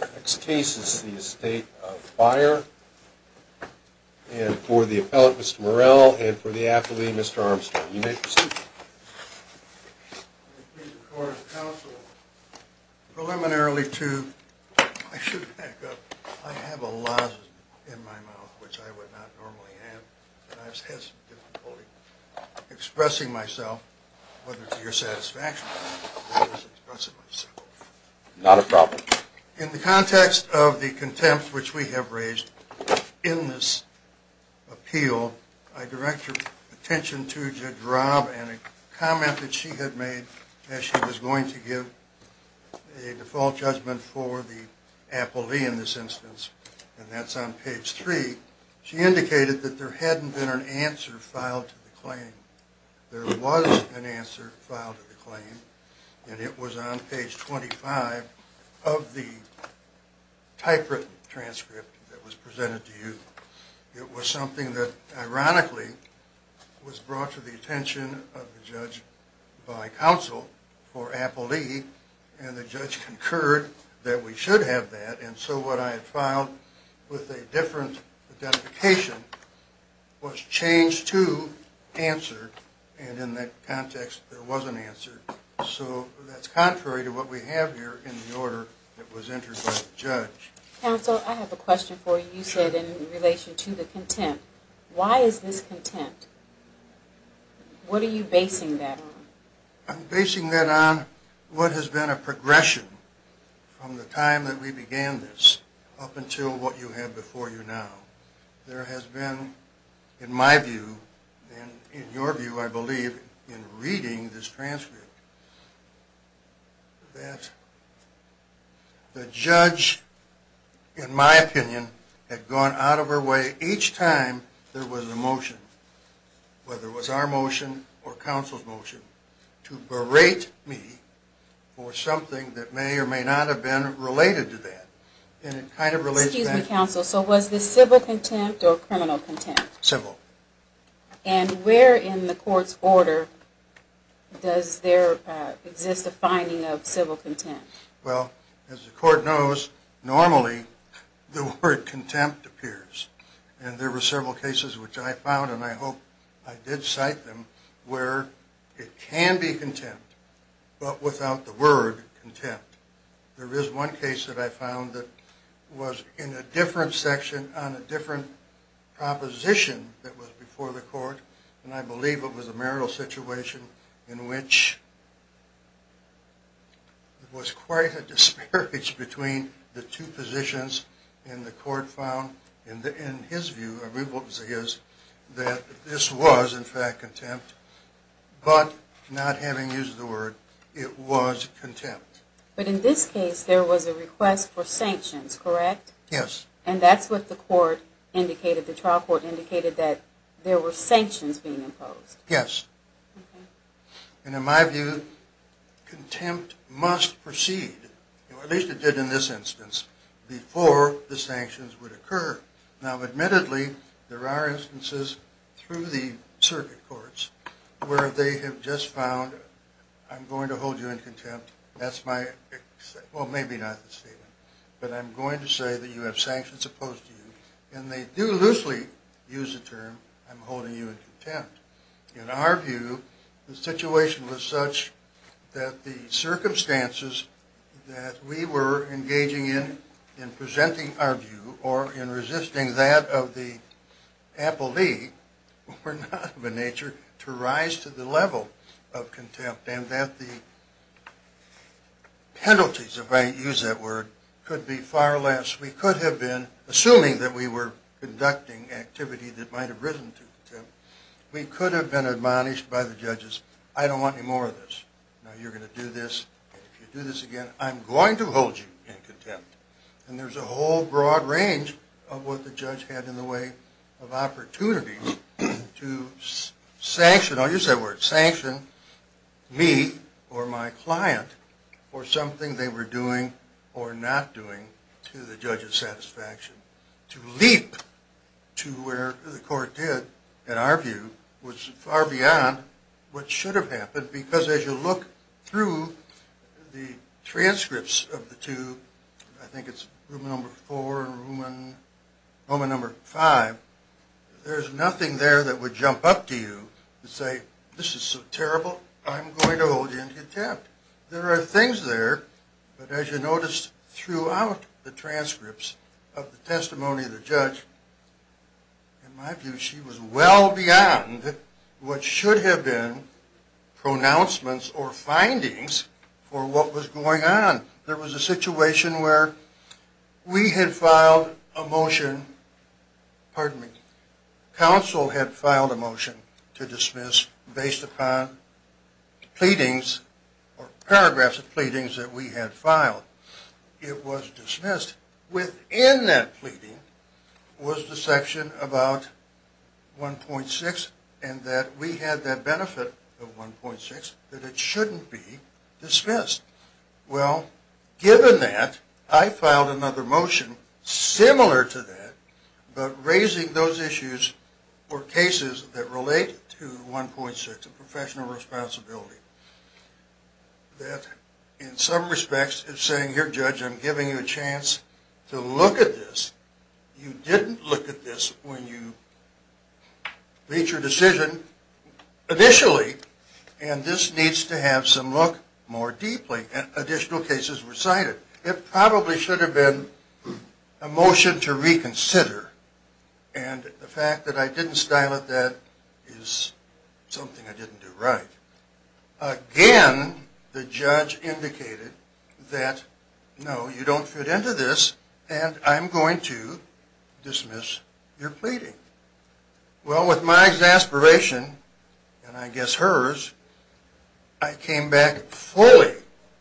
Next case is the Estate of Beyer and for the appellant Mr. Morell and for the In the context of the contempt which we have raised in this appeal, I direct your attention to Jedrob and a comment that she had made as she was going to give a default judgment for the appellee in this instance and that's on page 3. She indicated that there hadn't been an answer filed to the claim. There was an answer filed to the claim and it was on page 25 of the typewritten transcript that was presented to you. It was something that ironically was brought to the attention of the judge by counsel for appellee and the judge concurred that we should have that and so what I had filed with a different identification was changed to answer and in that context there was an answer. So that's contrary to what we have here in the order that was entered by the judge. Counsel, I have a question for you. You said in relation to the contempt, why is this contempt? What are you basing that on? I'm basing that on what has been a progression from the time that we began this up until what you have before you now. There has been in my view and in your view I believe in reading this transcript that the judge in my opinion had gone out of her way each time there was a motion, whether it was our motion or counsel's motion, to Excuse me, counsel. So was this civil contempt or criminal contempt? Civil. And where in the court's order does there exist a finding of civil contempt? Well, as the court knows, normally the word contempt appears and there were several cases which I found and I hope I did cite them where it can be contempt but without the word contempt. There is one case that I found that was in a different section on a different proposition that was before the court and I believe it was a marital situation in which it was quite a disparage between the two positions and the court found in his view, I believe it was his, that this was in fact contempt but not having used the word it was contempt. But in this case there was a request for sanctions, correct? Yes. And that's what the court indicated, the trial court indicated that there were sanctions being imposed. Yes. And in my view contempt must proceed, at least it did in this instance, before the sanctions would occur. Now admittedly there are instances through the circuit courts where they have just found I'm going to hold you in contempt, that's my, well maybe not the statement, but I'm going to say that you have sanctions opposed to you and they do loosely use the term I'm holding you in contempt. In our view the situation was such that the circumstances that we were engaging in in presenting our view or in resisting that of the appellee were not of a nature to rise to the level of contempt and that the penalties, if I use that word, could be far less. We could have been, assuming that we were conducting activity that might have risen to contempt, we could have been admonished by the judges, I don't want any more of this. Now you're going to do this and if you do this again I'm going to hold you in contempt. And there's a whole broad range of what the judge had in the way of opportunities to sanction, I'll use that word, sanction me or my client for something they were doing or not doing to the judge's satisfaction. To leap to where the court did, in our view, was far beyond what should have happened because as you look through the transcripts of the two, I think it's room number four and room number five, there's nothing there that would jump up to you and say this is so terrible I'm going to hold you in contempt. There are things there but as you notice throughout the transcripts of the testimony of the judge, in my view she was well beyond what should have been pronouncements or findings for what was going on. There was a situation where we had filed a motion, pardon me, counsel had filed a motion to dismiss based upon pleadings or paragraphs of pleadings that we had filed. It was dismissed. Within that pleading was the section about 1.6 and that we had that benefit of 1.6 that shouldn't be dismissed. Well, given that, I filed another motion similar to that but raising those issues for cases that relate to 1.6 of professional responsibility. That in some respects is saying here judge I'm giving you a chance to look at this. You didn't look at this when you made your decision initially and this needs to have some look more deeply and additional cases were cited. It probably should have been a motion to reconsider and the fact that I didn't style it that is something I didn't do right. Again, the judge indicated that no, you don't fit into this and I'm going to dismiss your pleading. Well, with my exasperation and I guess hers, I came back fully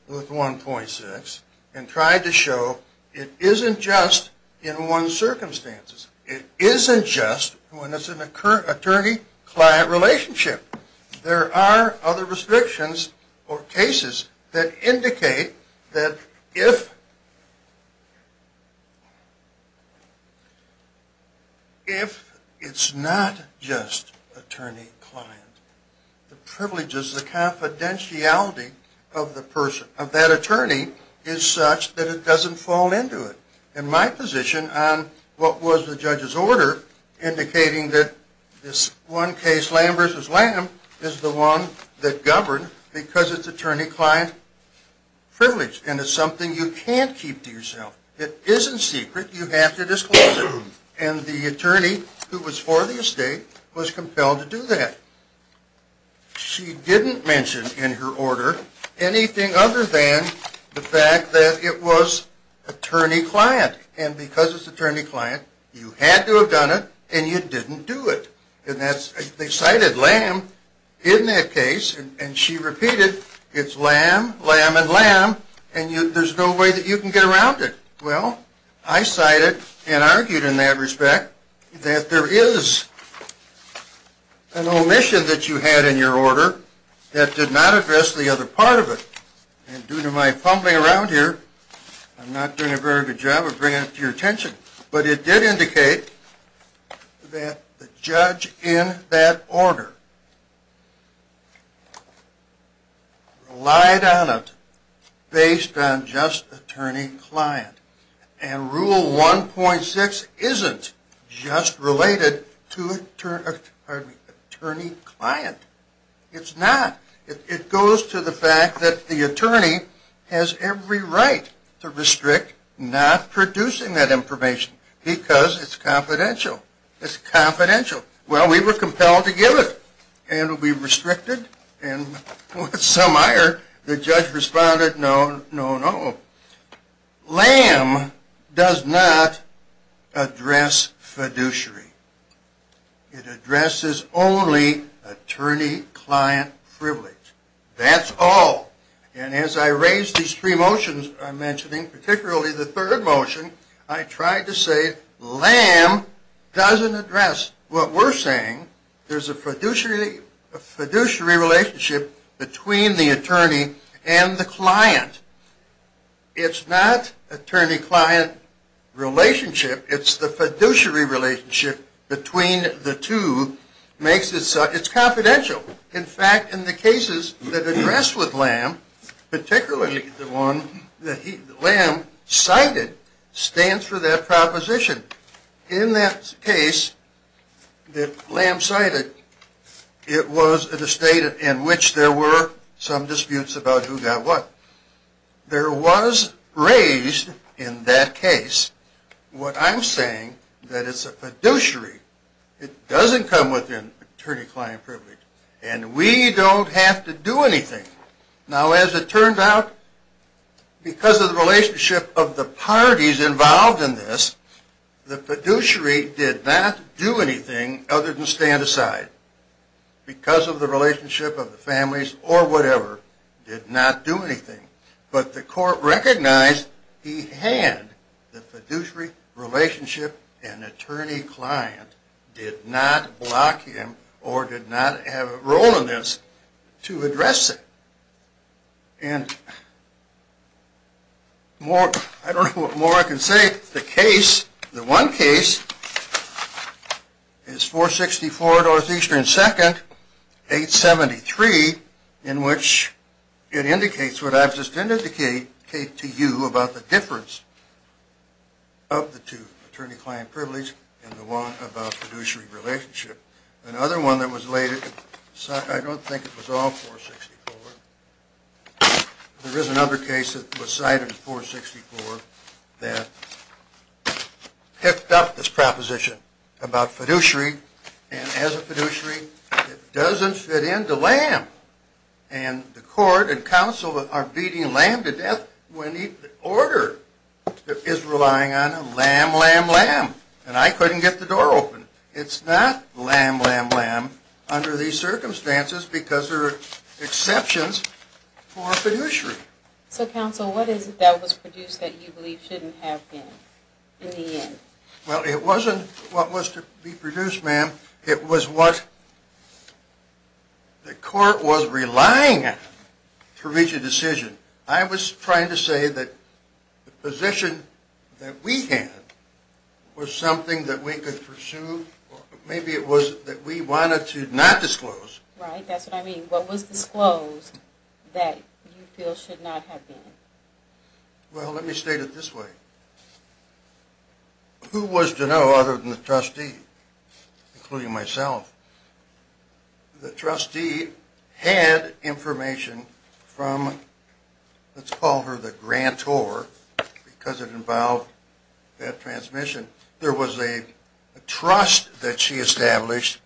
with 1.6 and tried to show it isn't just in one's circumstances. It isn't just when it's an attorney-client relationship. There are other restrictions or cases that indicate that if it's not just attorney-client, the privileges, the confidentiality of that attorney is such that it doesn't fall into it. And my position on what was the judge's order indicating that this one case, Lamb v. Lamb, is the one that governed because it's attorney-client privilege and it's something you can't keep to yourself. It isn't secret. You have to disclose it. And the attorney who was for the estate was compelled to do that. She didn't mention in her order anything other than the fact that it was attorney-client. And because it's attorney-client, you had to have done it and you didn't do it. And they cited Lamb in that case and she repeated it's Lamb, Lamb, and Lamb and there's no way that you can get around it. Well, I cited and argued in that respect that there is an omission that you had in your order that did not address the other part of it. And due to my fumbling around here, I'm not doing a very good job of bringing it to your attention. But it did indicate that the judge in that order relied on it based on just attorney-client. And Rule 1.6 isn't just related to attorney-client. It's not. It goes to the fact that the attorney has every right to restrict not producing that information because it's confidential. It's confidential. Well, we were compelled to give it and it will be restricted and with some ire, the judge responded, no, no, no. Lamb does not address fiduciary. It addresses only attorney-client privilege. That's all. And as I raise these three motions I'm mentioning, particularly the third motion, I tried to say Lamb doesn't address what we're saying. There's a fiduciary relationship between the two. It's not attorney-client relationship. It's the fiduciary relationship between the two makes it confidential. In fact, in the cases that address with Lamb, particularly the one that Lamb cited, stands for that proposition. In that case that Lamb cited, it was at a state in which there were some disputes about who got what. There was raised in that case what I'm saying, that it's a fiduciary. It doesn't come within attorney-client privilege. And we don't have to do anything. Now, as it turns out, because of the relationship of the parties involved in this, the fiduciary did not do anything other than stand aside because of the relationship of the families or whatever, did not do anything. But the court recognized he had the fiduciary relationship and attorney-client did not block him or did not have a role in this to address it. And I don't know what more I can say. The one case is 464 Northeastern 2nd, 873, in which it indicates what I've just indicated to you about the difference of the two, attorney-client privilege and the one about fiduciary relationship. Another one that was cited, I don't think it was all 464. There is another case that was cited in 464 that picked up this proposition about fiduciary. And as a fiduciary, it doesn't fit into LAM. And the court and counsel are beating LAM to death when the order is relying on LAM, LAM, LAM. And I couldn't get the door open. It's not LAM, LAM, LAM under these circumstances because there are exceptions for fiduciary. So counsel, what is it that was produced that you believe shouldn't have been in the end? Well, it wasn't what was to be produced, ma'am. It was what the court was relying on to reach a decision. I was trying to say that the position that we had was something that we could pursue. Maybe it was that we wanted to not disclose. Right, that's what I mean. What was disclosed that you feel should not have been? Well, let me state it this way. Who was to know other than the trustee, including myself? The trustee had information from, let's call her the grantor, because it involved that trust that she established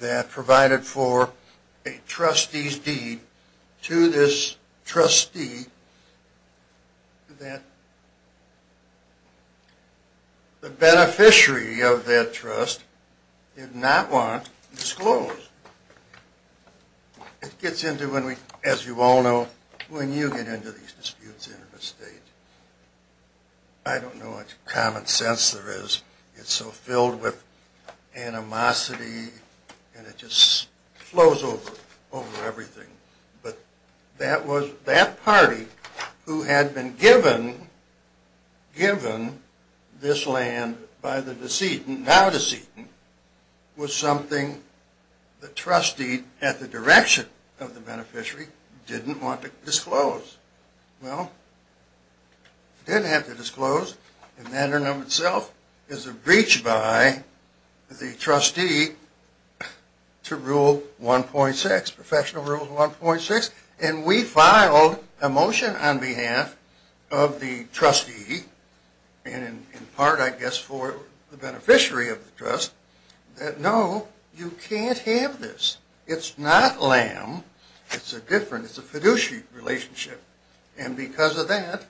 that provided for a trustee's deed to this trustee that the beneficiary of that trust did not want disclosed. It gets into, as you all know, when you get into these animosity and it just flows over, over everything. But that party who had been given this land by the decedent, now decedent, was something the trustee at the direction of the beneficiary didn't want to disclose. Well, didn't have to disclose, and that in and of itself is a breach by the trustee to Rule 1.6, Professional Rule 1.6. And we filed a motion on behalf of the trustee, and in part, I guess, for the beneficiary of the trust, that no, you can't have this. It's not lamb. It's a different, it's a fiduciary relationship. And because of that,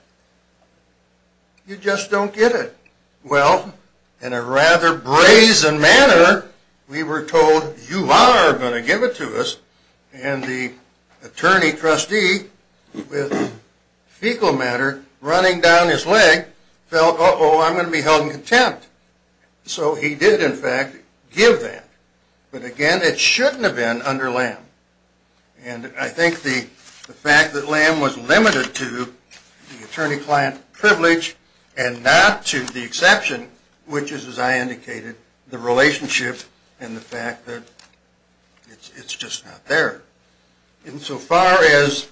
you just don't get it. Well, in a rather brazen manner, we were told, you are going to give it to us. And the attorney trustee with fecal matter running down his leg felt, uh-oh, I'm going to be held in contempt. So he did, in fact, give that. But again, it shouldn't have been under lamb. And I think the fact that lamb was limited to the attorney-client privilege and not to the exception, which is, as I indicated, the relationship and the fact that it's just not there. Insofar as,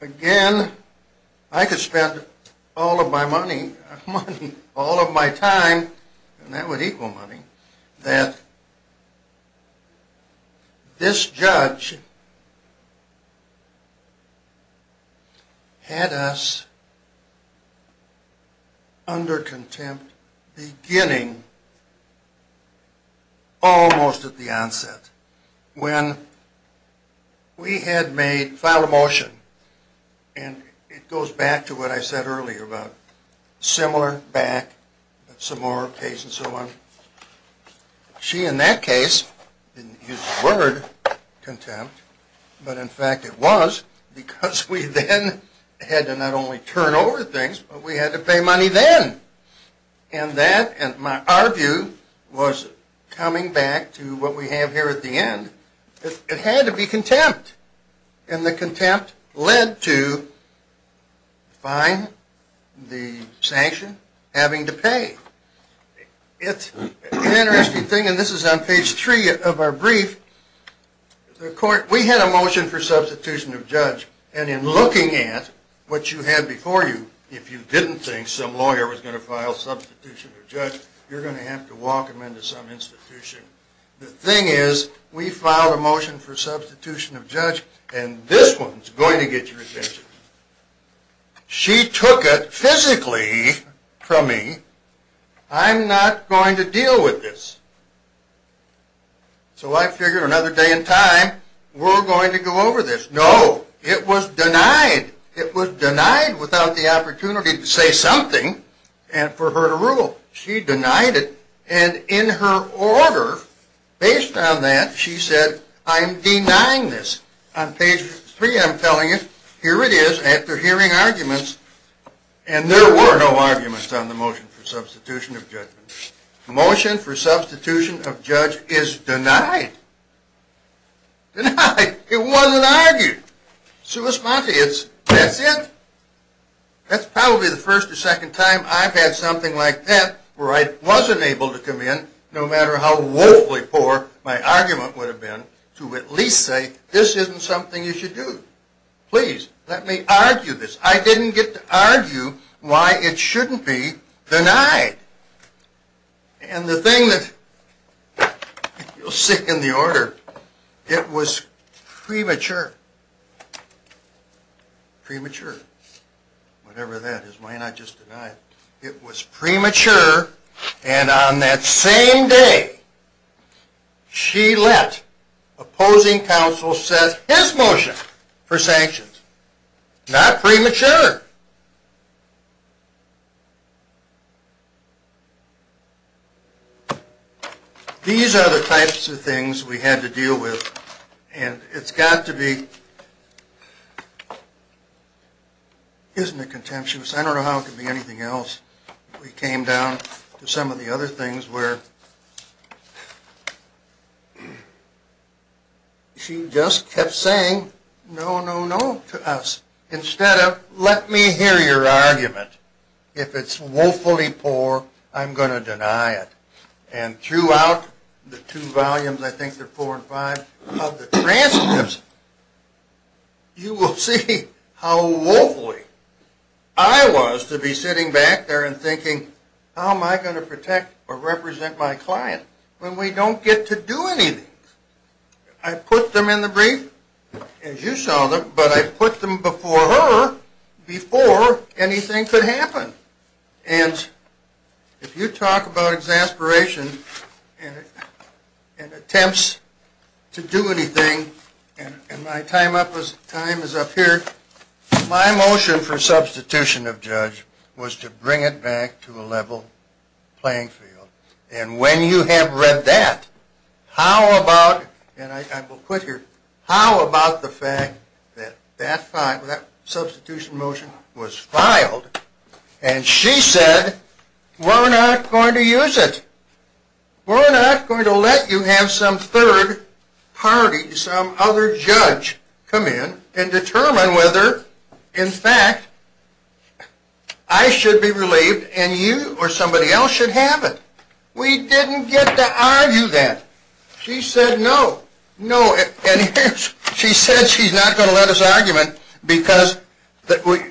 again, I could spend all of my money, money, all of my time, and that would equal money, that this judge had us under contempt beginning almost at the onset. When we had made, filed a motion, and it goes back to what I said earlier about similar back, similar case and so on. She, in that case, didn't use the word contempt, but in fact it was because we then had to not only turn over things, but we had to pay money then. And that, in our view, was coming back to what we have here at the end. It had to be contempt. And the contempt led to fine, the sanction, having to pay. It's an interesting thing, and this is on page three of our brief. We had a motion for substitution of judge. And in looking at what you had before you, if you didn't think some lawyer was going to file substitution of judge, you're going to have to walk them into some institution. The thing is, we filed a motion for substitution of judge, and this one's going to get your attention. She took it physically from me. I'm not going to deal with this. So I figured another day and time, we're going to go over this. No, it was denied. It was denied without the opportunity to say something, and for her to rule. She denied it, and in her order, based on that, she said, I'm denying this. On page three I'm telling you, here it is, after hearing arguments, and there were no arguments on the motion for substitution of judge. The motion for substitution of judge is denied. Denied. It wasn't argued. Sua sponte, that's it. That's probably the first or second time I've had something like that, where I wasn't able to come in, no matter how woefully poor my argument would have been, to at least say this isn't something you should do. Please, let me argue this. I didn't get to argue why it shouldn't be denied. And the thing that, you'll see in the order, it was premature. Premature. Whatever that is, why not just deny it? It was premature, and on that same day, she let opposing counsel set his motion for sanctions. Not premature. These are the types of things we had to deal with, and it's got to be, isn't it contemptuous, I don't know how it could be anything else. We came down to some of the other things where she just kept saying no, no, no to us, instead of let me hear your argument. If it's woefully poor, I'm going to deny it. And throughout the two volumes, I think they're four and five, of the transcripts, you will see how woefully I was to be sitting back there and thinking, how am I going to protect or represent my client when we don't get to do anything? I put them in the brief, as you saw them, but I put them before her, before anything could happen. And if you talk about exasperation and attempts to do anything, and my time is up here, my motion for substitution of judge was to bring it back to a level playing field. And when you have read that, how about, and I will quit here, how about the fact that that substitution motion was filed, and she said, we're not going to use it. We're not going to let you have some third party, some other judge come in and determine whether, in fact, I should be relieved and you or somebody else should have it. We didn't get to argue that. She said no. No. And she said she's not going to let us argument because,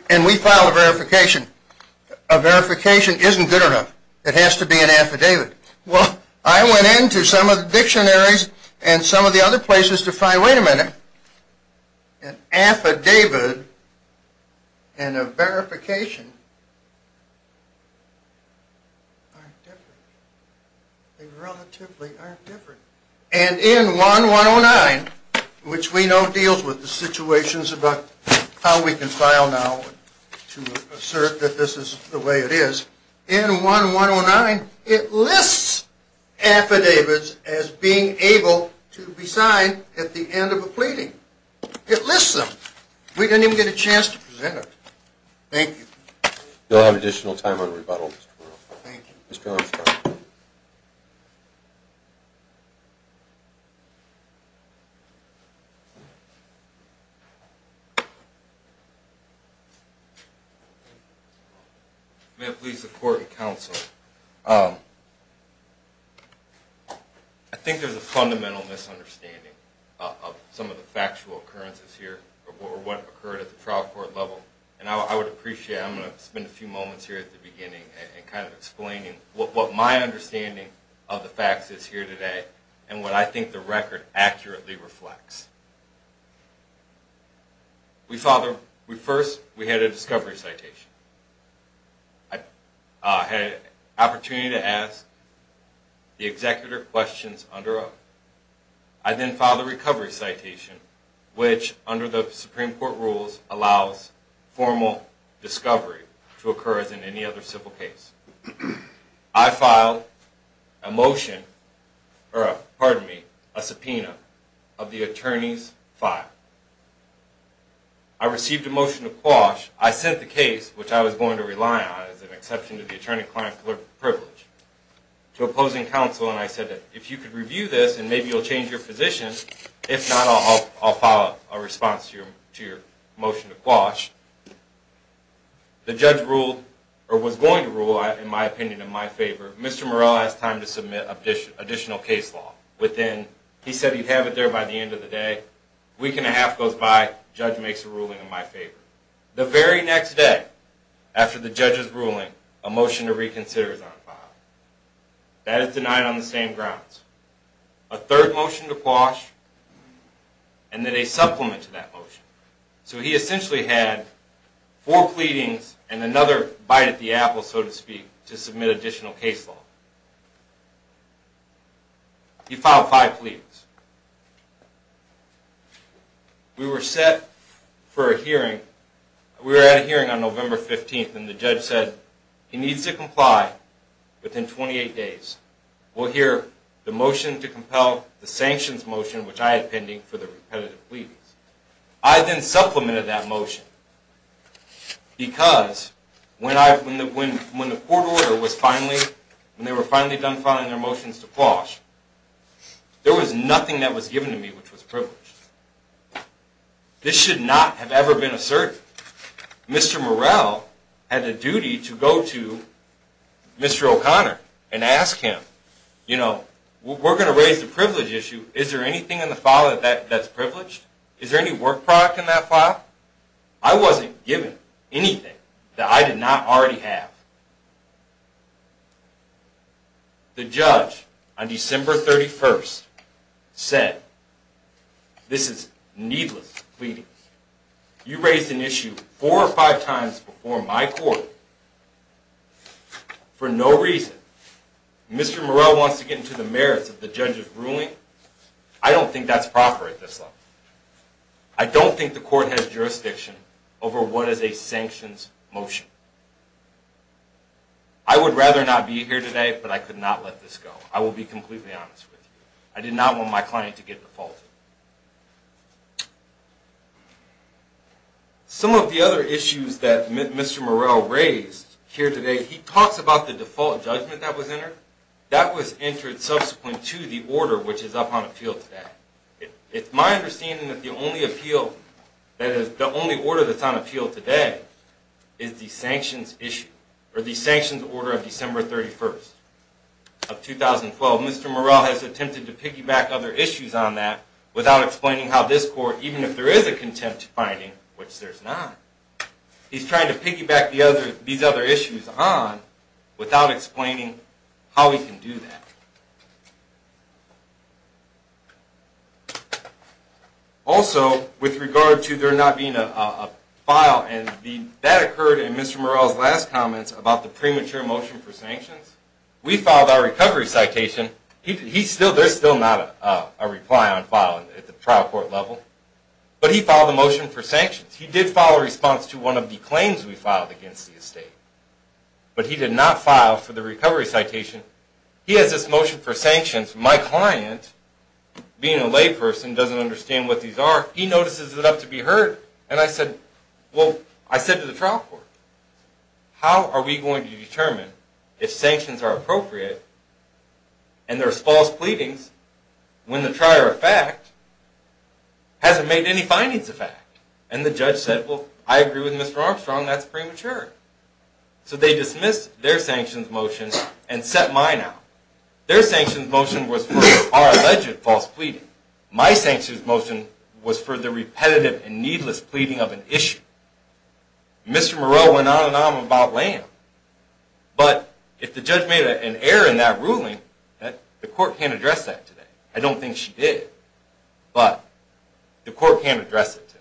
and we filed a verification. A verification isn't good enough. It has to be an affidavit. Well, I went into some of the dictionaries and some of the other places to find, wait a minute, an affidavit and a verification aren't different. They relatively aren't different. And in 1-109, which we know deals with the situations about how we can file now to assert that this is the way it is, in 1-109 it lists affidavits as being able to be signed at the end of a pleading. It lists them. We didn't even get a chance to present it. Thank you. We'll have additional time on rebuttal. Mr. Armstrong. May it please the court and counsel. I think there's a fundamental misunderstanding of some of the factual occurrences here or what occurred at the trial court level. And I would appreciate, I'm going to spend a few moments here at the beginning and kind of explain what my understanding of the facts is here today and what I think the record accurately reflects. First, we had a discovery citation. I had an opportunity to ask the executor questions. I then filed a recovery citation, which under the Supreme Court rules allows formal discovery to occur as in any other civil case. I filed a motion, pardon me, a subpoena of the attorney's file. I received a motion to quash. I sent the case, which I was going to rely on as an exception to the attorney-client privilege, to opposing counsel and I said that if you could review this and maybe you'll change your position, if not I'll file a response to your motion to quash. The judge ruled, or was going to rule, in my opinion, in my favor. Mr. Morell has time to submit additional case law. He said he'd have it there by the end of the day. A week and a half goes by, the judge makes a ruling in my favor. The very next day after the judge's ruling, a motion to reconsider is on file. That is denied on the same grounds. A third motion to quash and then a supplement to that motion. So he essentially had four pleadings and another bite at the apple, so to speak, to submit additional case law. He filed five pleadings. We were set for a hearing. We were at a hearing on November 15th and the judge said he needs to comply within 28 days. We'll hear the motion to compel, the sanctions motion, which I had pending for the repetitive pleadings. I then supplemented that motion because when the court order was finally, when they were finally done filing their motions to quash, there was nothing that was given to me which was privileged. This should not have ever been asserted. Mr. Morell had a duty to go to Mr. O'Connor and ask him, you know, we're going to raise the privilege issue. Is there anything in the file that's privileged? Is there any work product in that file? I wasn't given anything that I did not already have. The judge on December 31st said, this is needless pleading. You raised an issue four or five times before my court for no reason. Mr. Morell wants to get into the merits of the judge's ruling. I don't think that's proper at this level. I don't think the court has jurisdiction over what is a sanctions motion. I would rather not be here today, but I could not let this go. I will be completely honest with you. I did not want my client to get defaulted. Some of the other issues that Mr. Morell raised here today, he talks about the default judgment that was entered. That was entered subsequent to the order which is up on appeal today. It's my understanding that the only order that's on appeal today is the sanctions order of December 31st of 2012. Mr. Morell has attempted to piggyback other issues on that without explaining how this court, even if there is a contempt finding, which there's not, he's trying to piggyback these other issues on without explaining how he can do that. Also, with regard to there not being a file, and that occurred in Mr. Morell's last comments about the premature motion for sanctions, we filed our recovery citation. There's still not a reply on file at the trial court level, but he filed a motion for sanctions. He did file a response to one of the claims we filed against the estate, but he did not file for the recovery citation. He has this motion for sanctions. My client, being a layperson, doesn't understand what these are. He notices it up to be heard. And I said, well, I said to the trial court, how are we going to determine if sanctions are appropriate and there's false pleadings when the prior fact hasn't made any findings of fact? And the judge said, well, I agree with Mr. Armstrong, that's premature. So they dismissed their sanctions motion and set mine out. Their sanctions motion was for alleged false pleading. My sanctions motion was for the repetitive and needless pleading of an issue. Mr. Morell went on and on about land, but if the judge made an error in that ruling, the court can't address that today. I don't think she did, but the court can't address it today.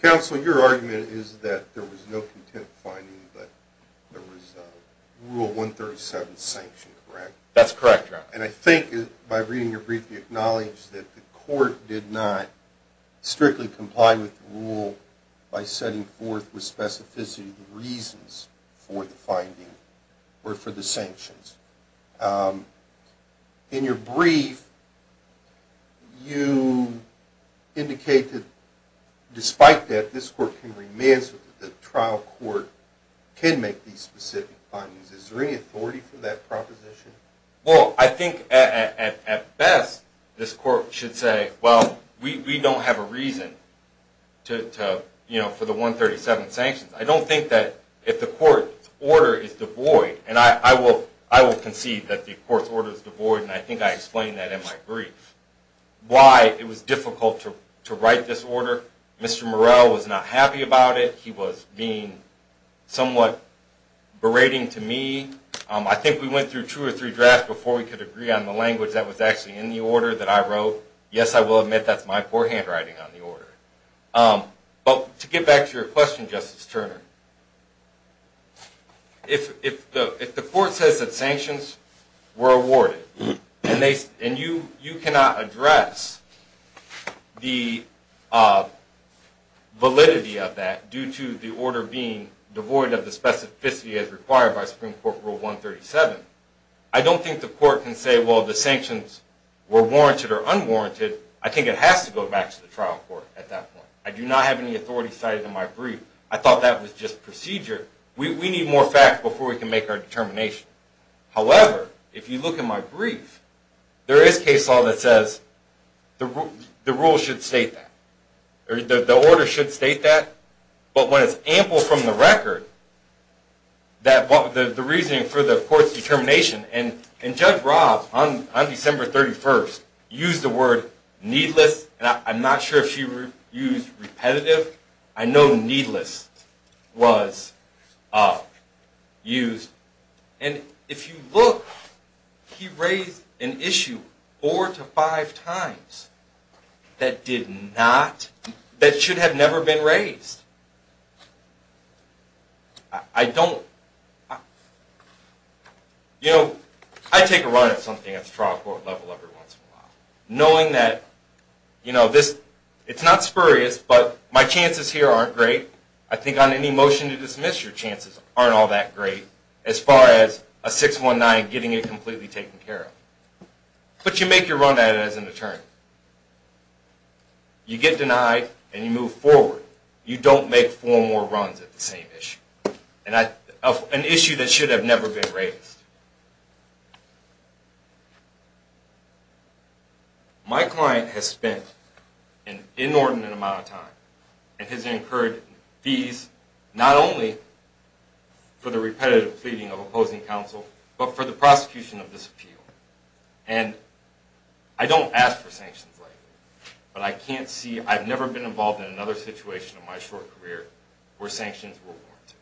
Counsel, your argument is that there was no contempt finding, but there was a Rule 137 sanction, correct? That's correct, Your Honor. And I think, by reading your brief, you acknowledge that the court did not strictly comply with the rule by setting forth with specificity the reasons for the finding or for the sanctions. In your brief, you indicate that, despite that, this court can remand the trial court can make these specific findings. Is there any authority for that proposition? Well, I think, at best, this court should say, well, we don't have a reason for the 137 sanctions. I don't think that if the court's order is devoid, and I will concede that the court's order is devoid, and I think I explained that in my brief, why it was difficult to write this order. Mr. Morell was not happy about it. He was being somewhat berating to me. I think we went through two or three drafts before we could agree on the language that was actually in the order that I wrote. Yes, I will admit that's my poor handwriting on the order. But to get back to your question, Justice Turner, if the court says that sanctions were awarded, and you cannot address the validity of that due to the order being devoid of the specificity as required by Supreme Court Rule 137, I don't think the court can say, well, the sanctions were warranted or unwarranted. I think it has to go back to the trial court at that point. I do not have any authority cited in my brief. I thought that was just procedure. We need more facts before we can make our determination. However, if you look at my brief, there is case law that says the rule should state that. The order should state that. But when it's ample from the record, the reasoning for the court's determination, and Judge Robb, on December 31st, used the word needless, and I'm not sure if she used repetitive. I know needless was used. And if you look, he raised an issue four to five times that should have never been raised. I take a run at something at the trial court level every once in a while, knowing that it's not spurious, but my chances here aren't great. I think on any motion to dismiss, your chances aren't all that great as far as a 619 getting it completely taken care of. But you make your run at it as an attorney. You get denied and you move forward. You don't make four more runs at the same issue. An issue that should have never been raised. My client has spent an inordinate amount of time and has incurred fees not only for the repetitive pleading of opposing counsel, but for the prosecution of this appeal. And I don't ask for sanctions, but I can't see, I've never been involved in another situation in my short career where sanctions were warranted.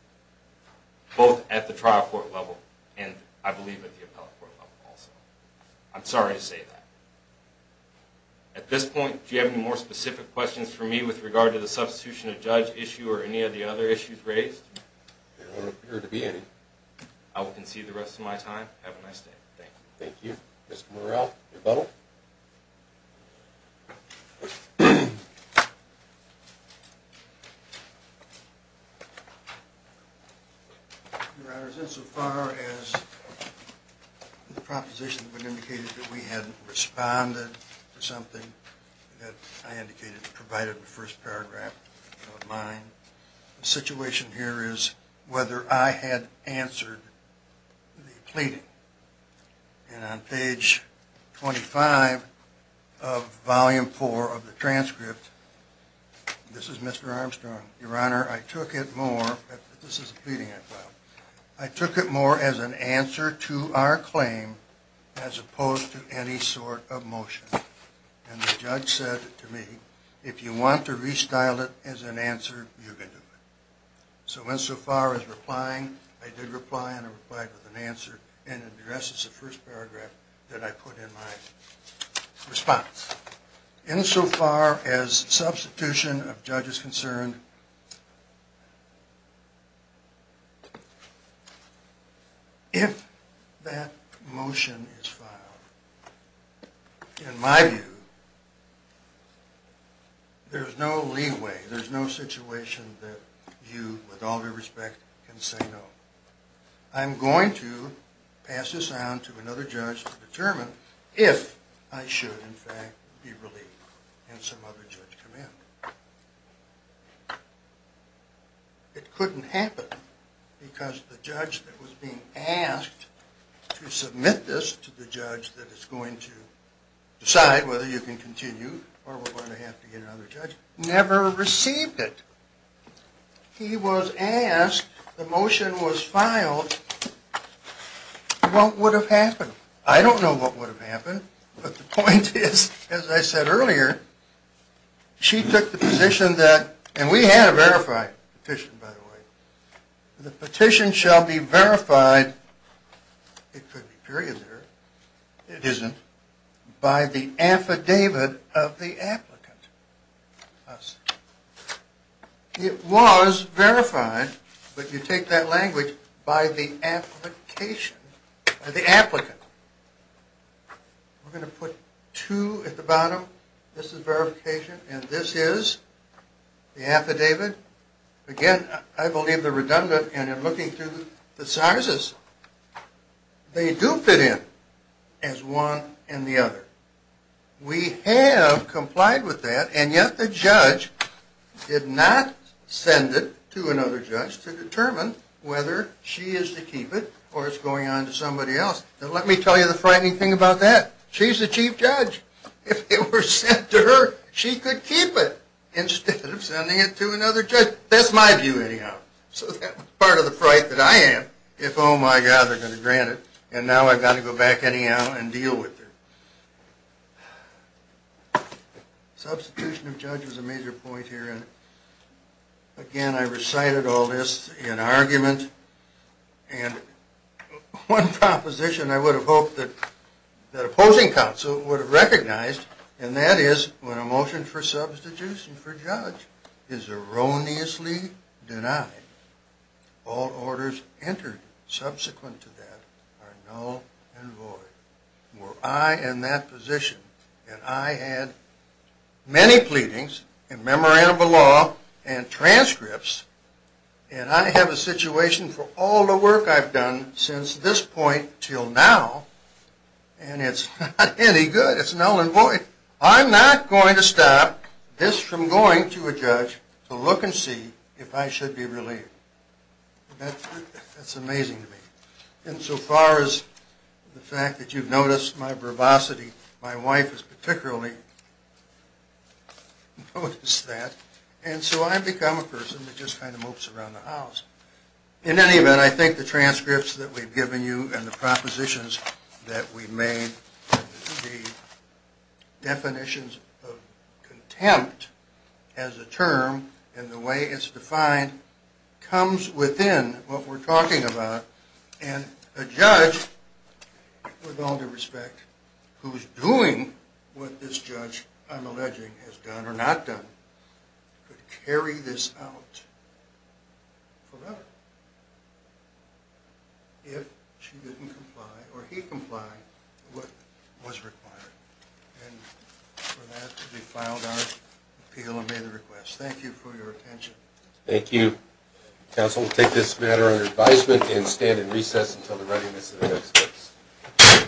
Both at the trial court level and I believe at the appellate court level also. I'm sorry to say that. At this point, do you have any more specific questions for me with regard to the substitution of judge issue or any of the other issues raised? There don't appear to be any. I will concede the rest of my time. Have a nice day. Thank you. Your Honor, insofar as the proposition indicated that we had responded to something that I indicated provided in the first paragraph of mine, the situation here is whether I had answered the pleading. And on page 25 of volume 4 of the transcript, this is Mr. Armstrong, Your Honor, I took it more as an answer to our claim as opposed to any sort of motion. And the judge said to me, if you want to restyle it as an answer, you can do it. So insofar as replying, I did reply and I replied with an answer. And the rest is the first paragraph that I put in my response. Insofar as substitution of judge is concerned, if that motion is filed, in my view, there's no leeway, there's no situation that you, with all due respect, can say no. I'm going to pass this on to another judge to determine if I should, in fact, be relieved and some other judge come in. It couldn't happen because the judge that was being asked to submit this to the judge that is going to decide whether you can continue or we're going to have to get another judge, never received it. He was asked, the motion was filed, what would have happened? I don't know what would have happened, but the point is, as I said earlier, she took the position that, and we had a verified petition, by the way, the petition shall be verified, it could be period there, it isn't, by the affidavit of the applicant. It was verified, but you take that language, by the application, by the applicant. We're going to put two at the bottom, this is verification and this is the affidavit. Again, I believe they're redundant and in looking through the sizes, they do fit in as one and the other. We have complied with that and yet the judge did not send it to another judge to determine whether she is to keep it or it's going on to somebody else. Now let me tell you the frightening thing about that. She's the chief judge. If it were sent to her, she could keep it instead of sending it to another judge. That's my view anyhow. So that was part of the fright that I had, if oh my god, they're going to grant it and now I've got to go back anyhow and deal with her. Substitution of judge was a major point here and again, I recited all this in argument and one proposition I would have hoped that opposing counsel would have recognized and that is when a motion for substitution for judge is erroneously denied, all orders entered subsequent to that are null and void. Were I in that position and I had many pleadings and memorandum of law and transcripts and I have a situation for all the work I've done since this point till now and it's not any good. It's null and void. I'm not going to stop this from going to a judge to look and see if I should be relieved. That's amazing to me. And so far as the fact that you've noticed my verbosity, my wife has particularly noticed that and so I've become a person that just kind of mopes around the house. In any event, I think the transcripts that we've given you and the propositions that we've made, the definitions of contempt as a term and the way it's defined comes within what we're talking about and a judge, with all due respect, who is doing what this judge, I'm alleging, has done or not done, could carry this out forever if she didn't comply or he complied with what was required. And for that to be filed, I appeal and make the request. Thank you for your attention. Thank you. Council, we'll take this matter under advisement and stand in recess until the readiness of the next case.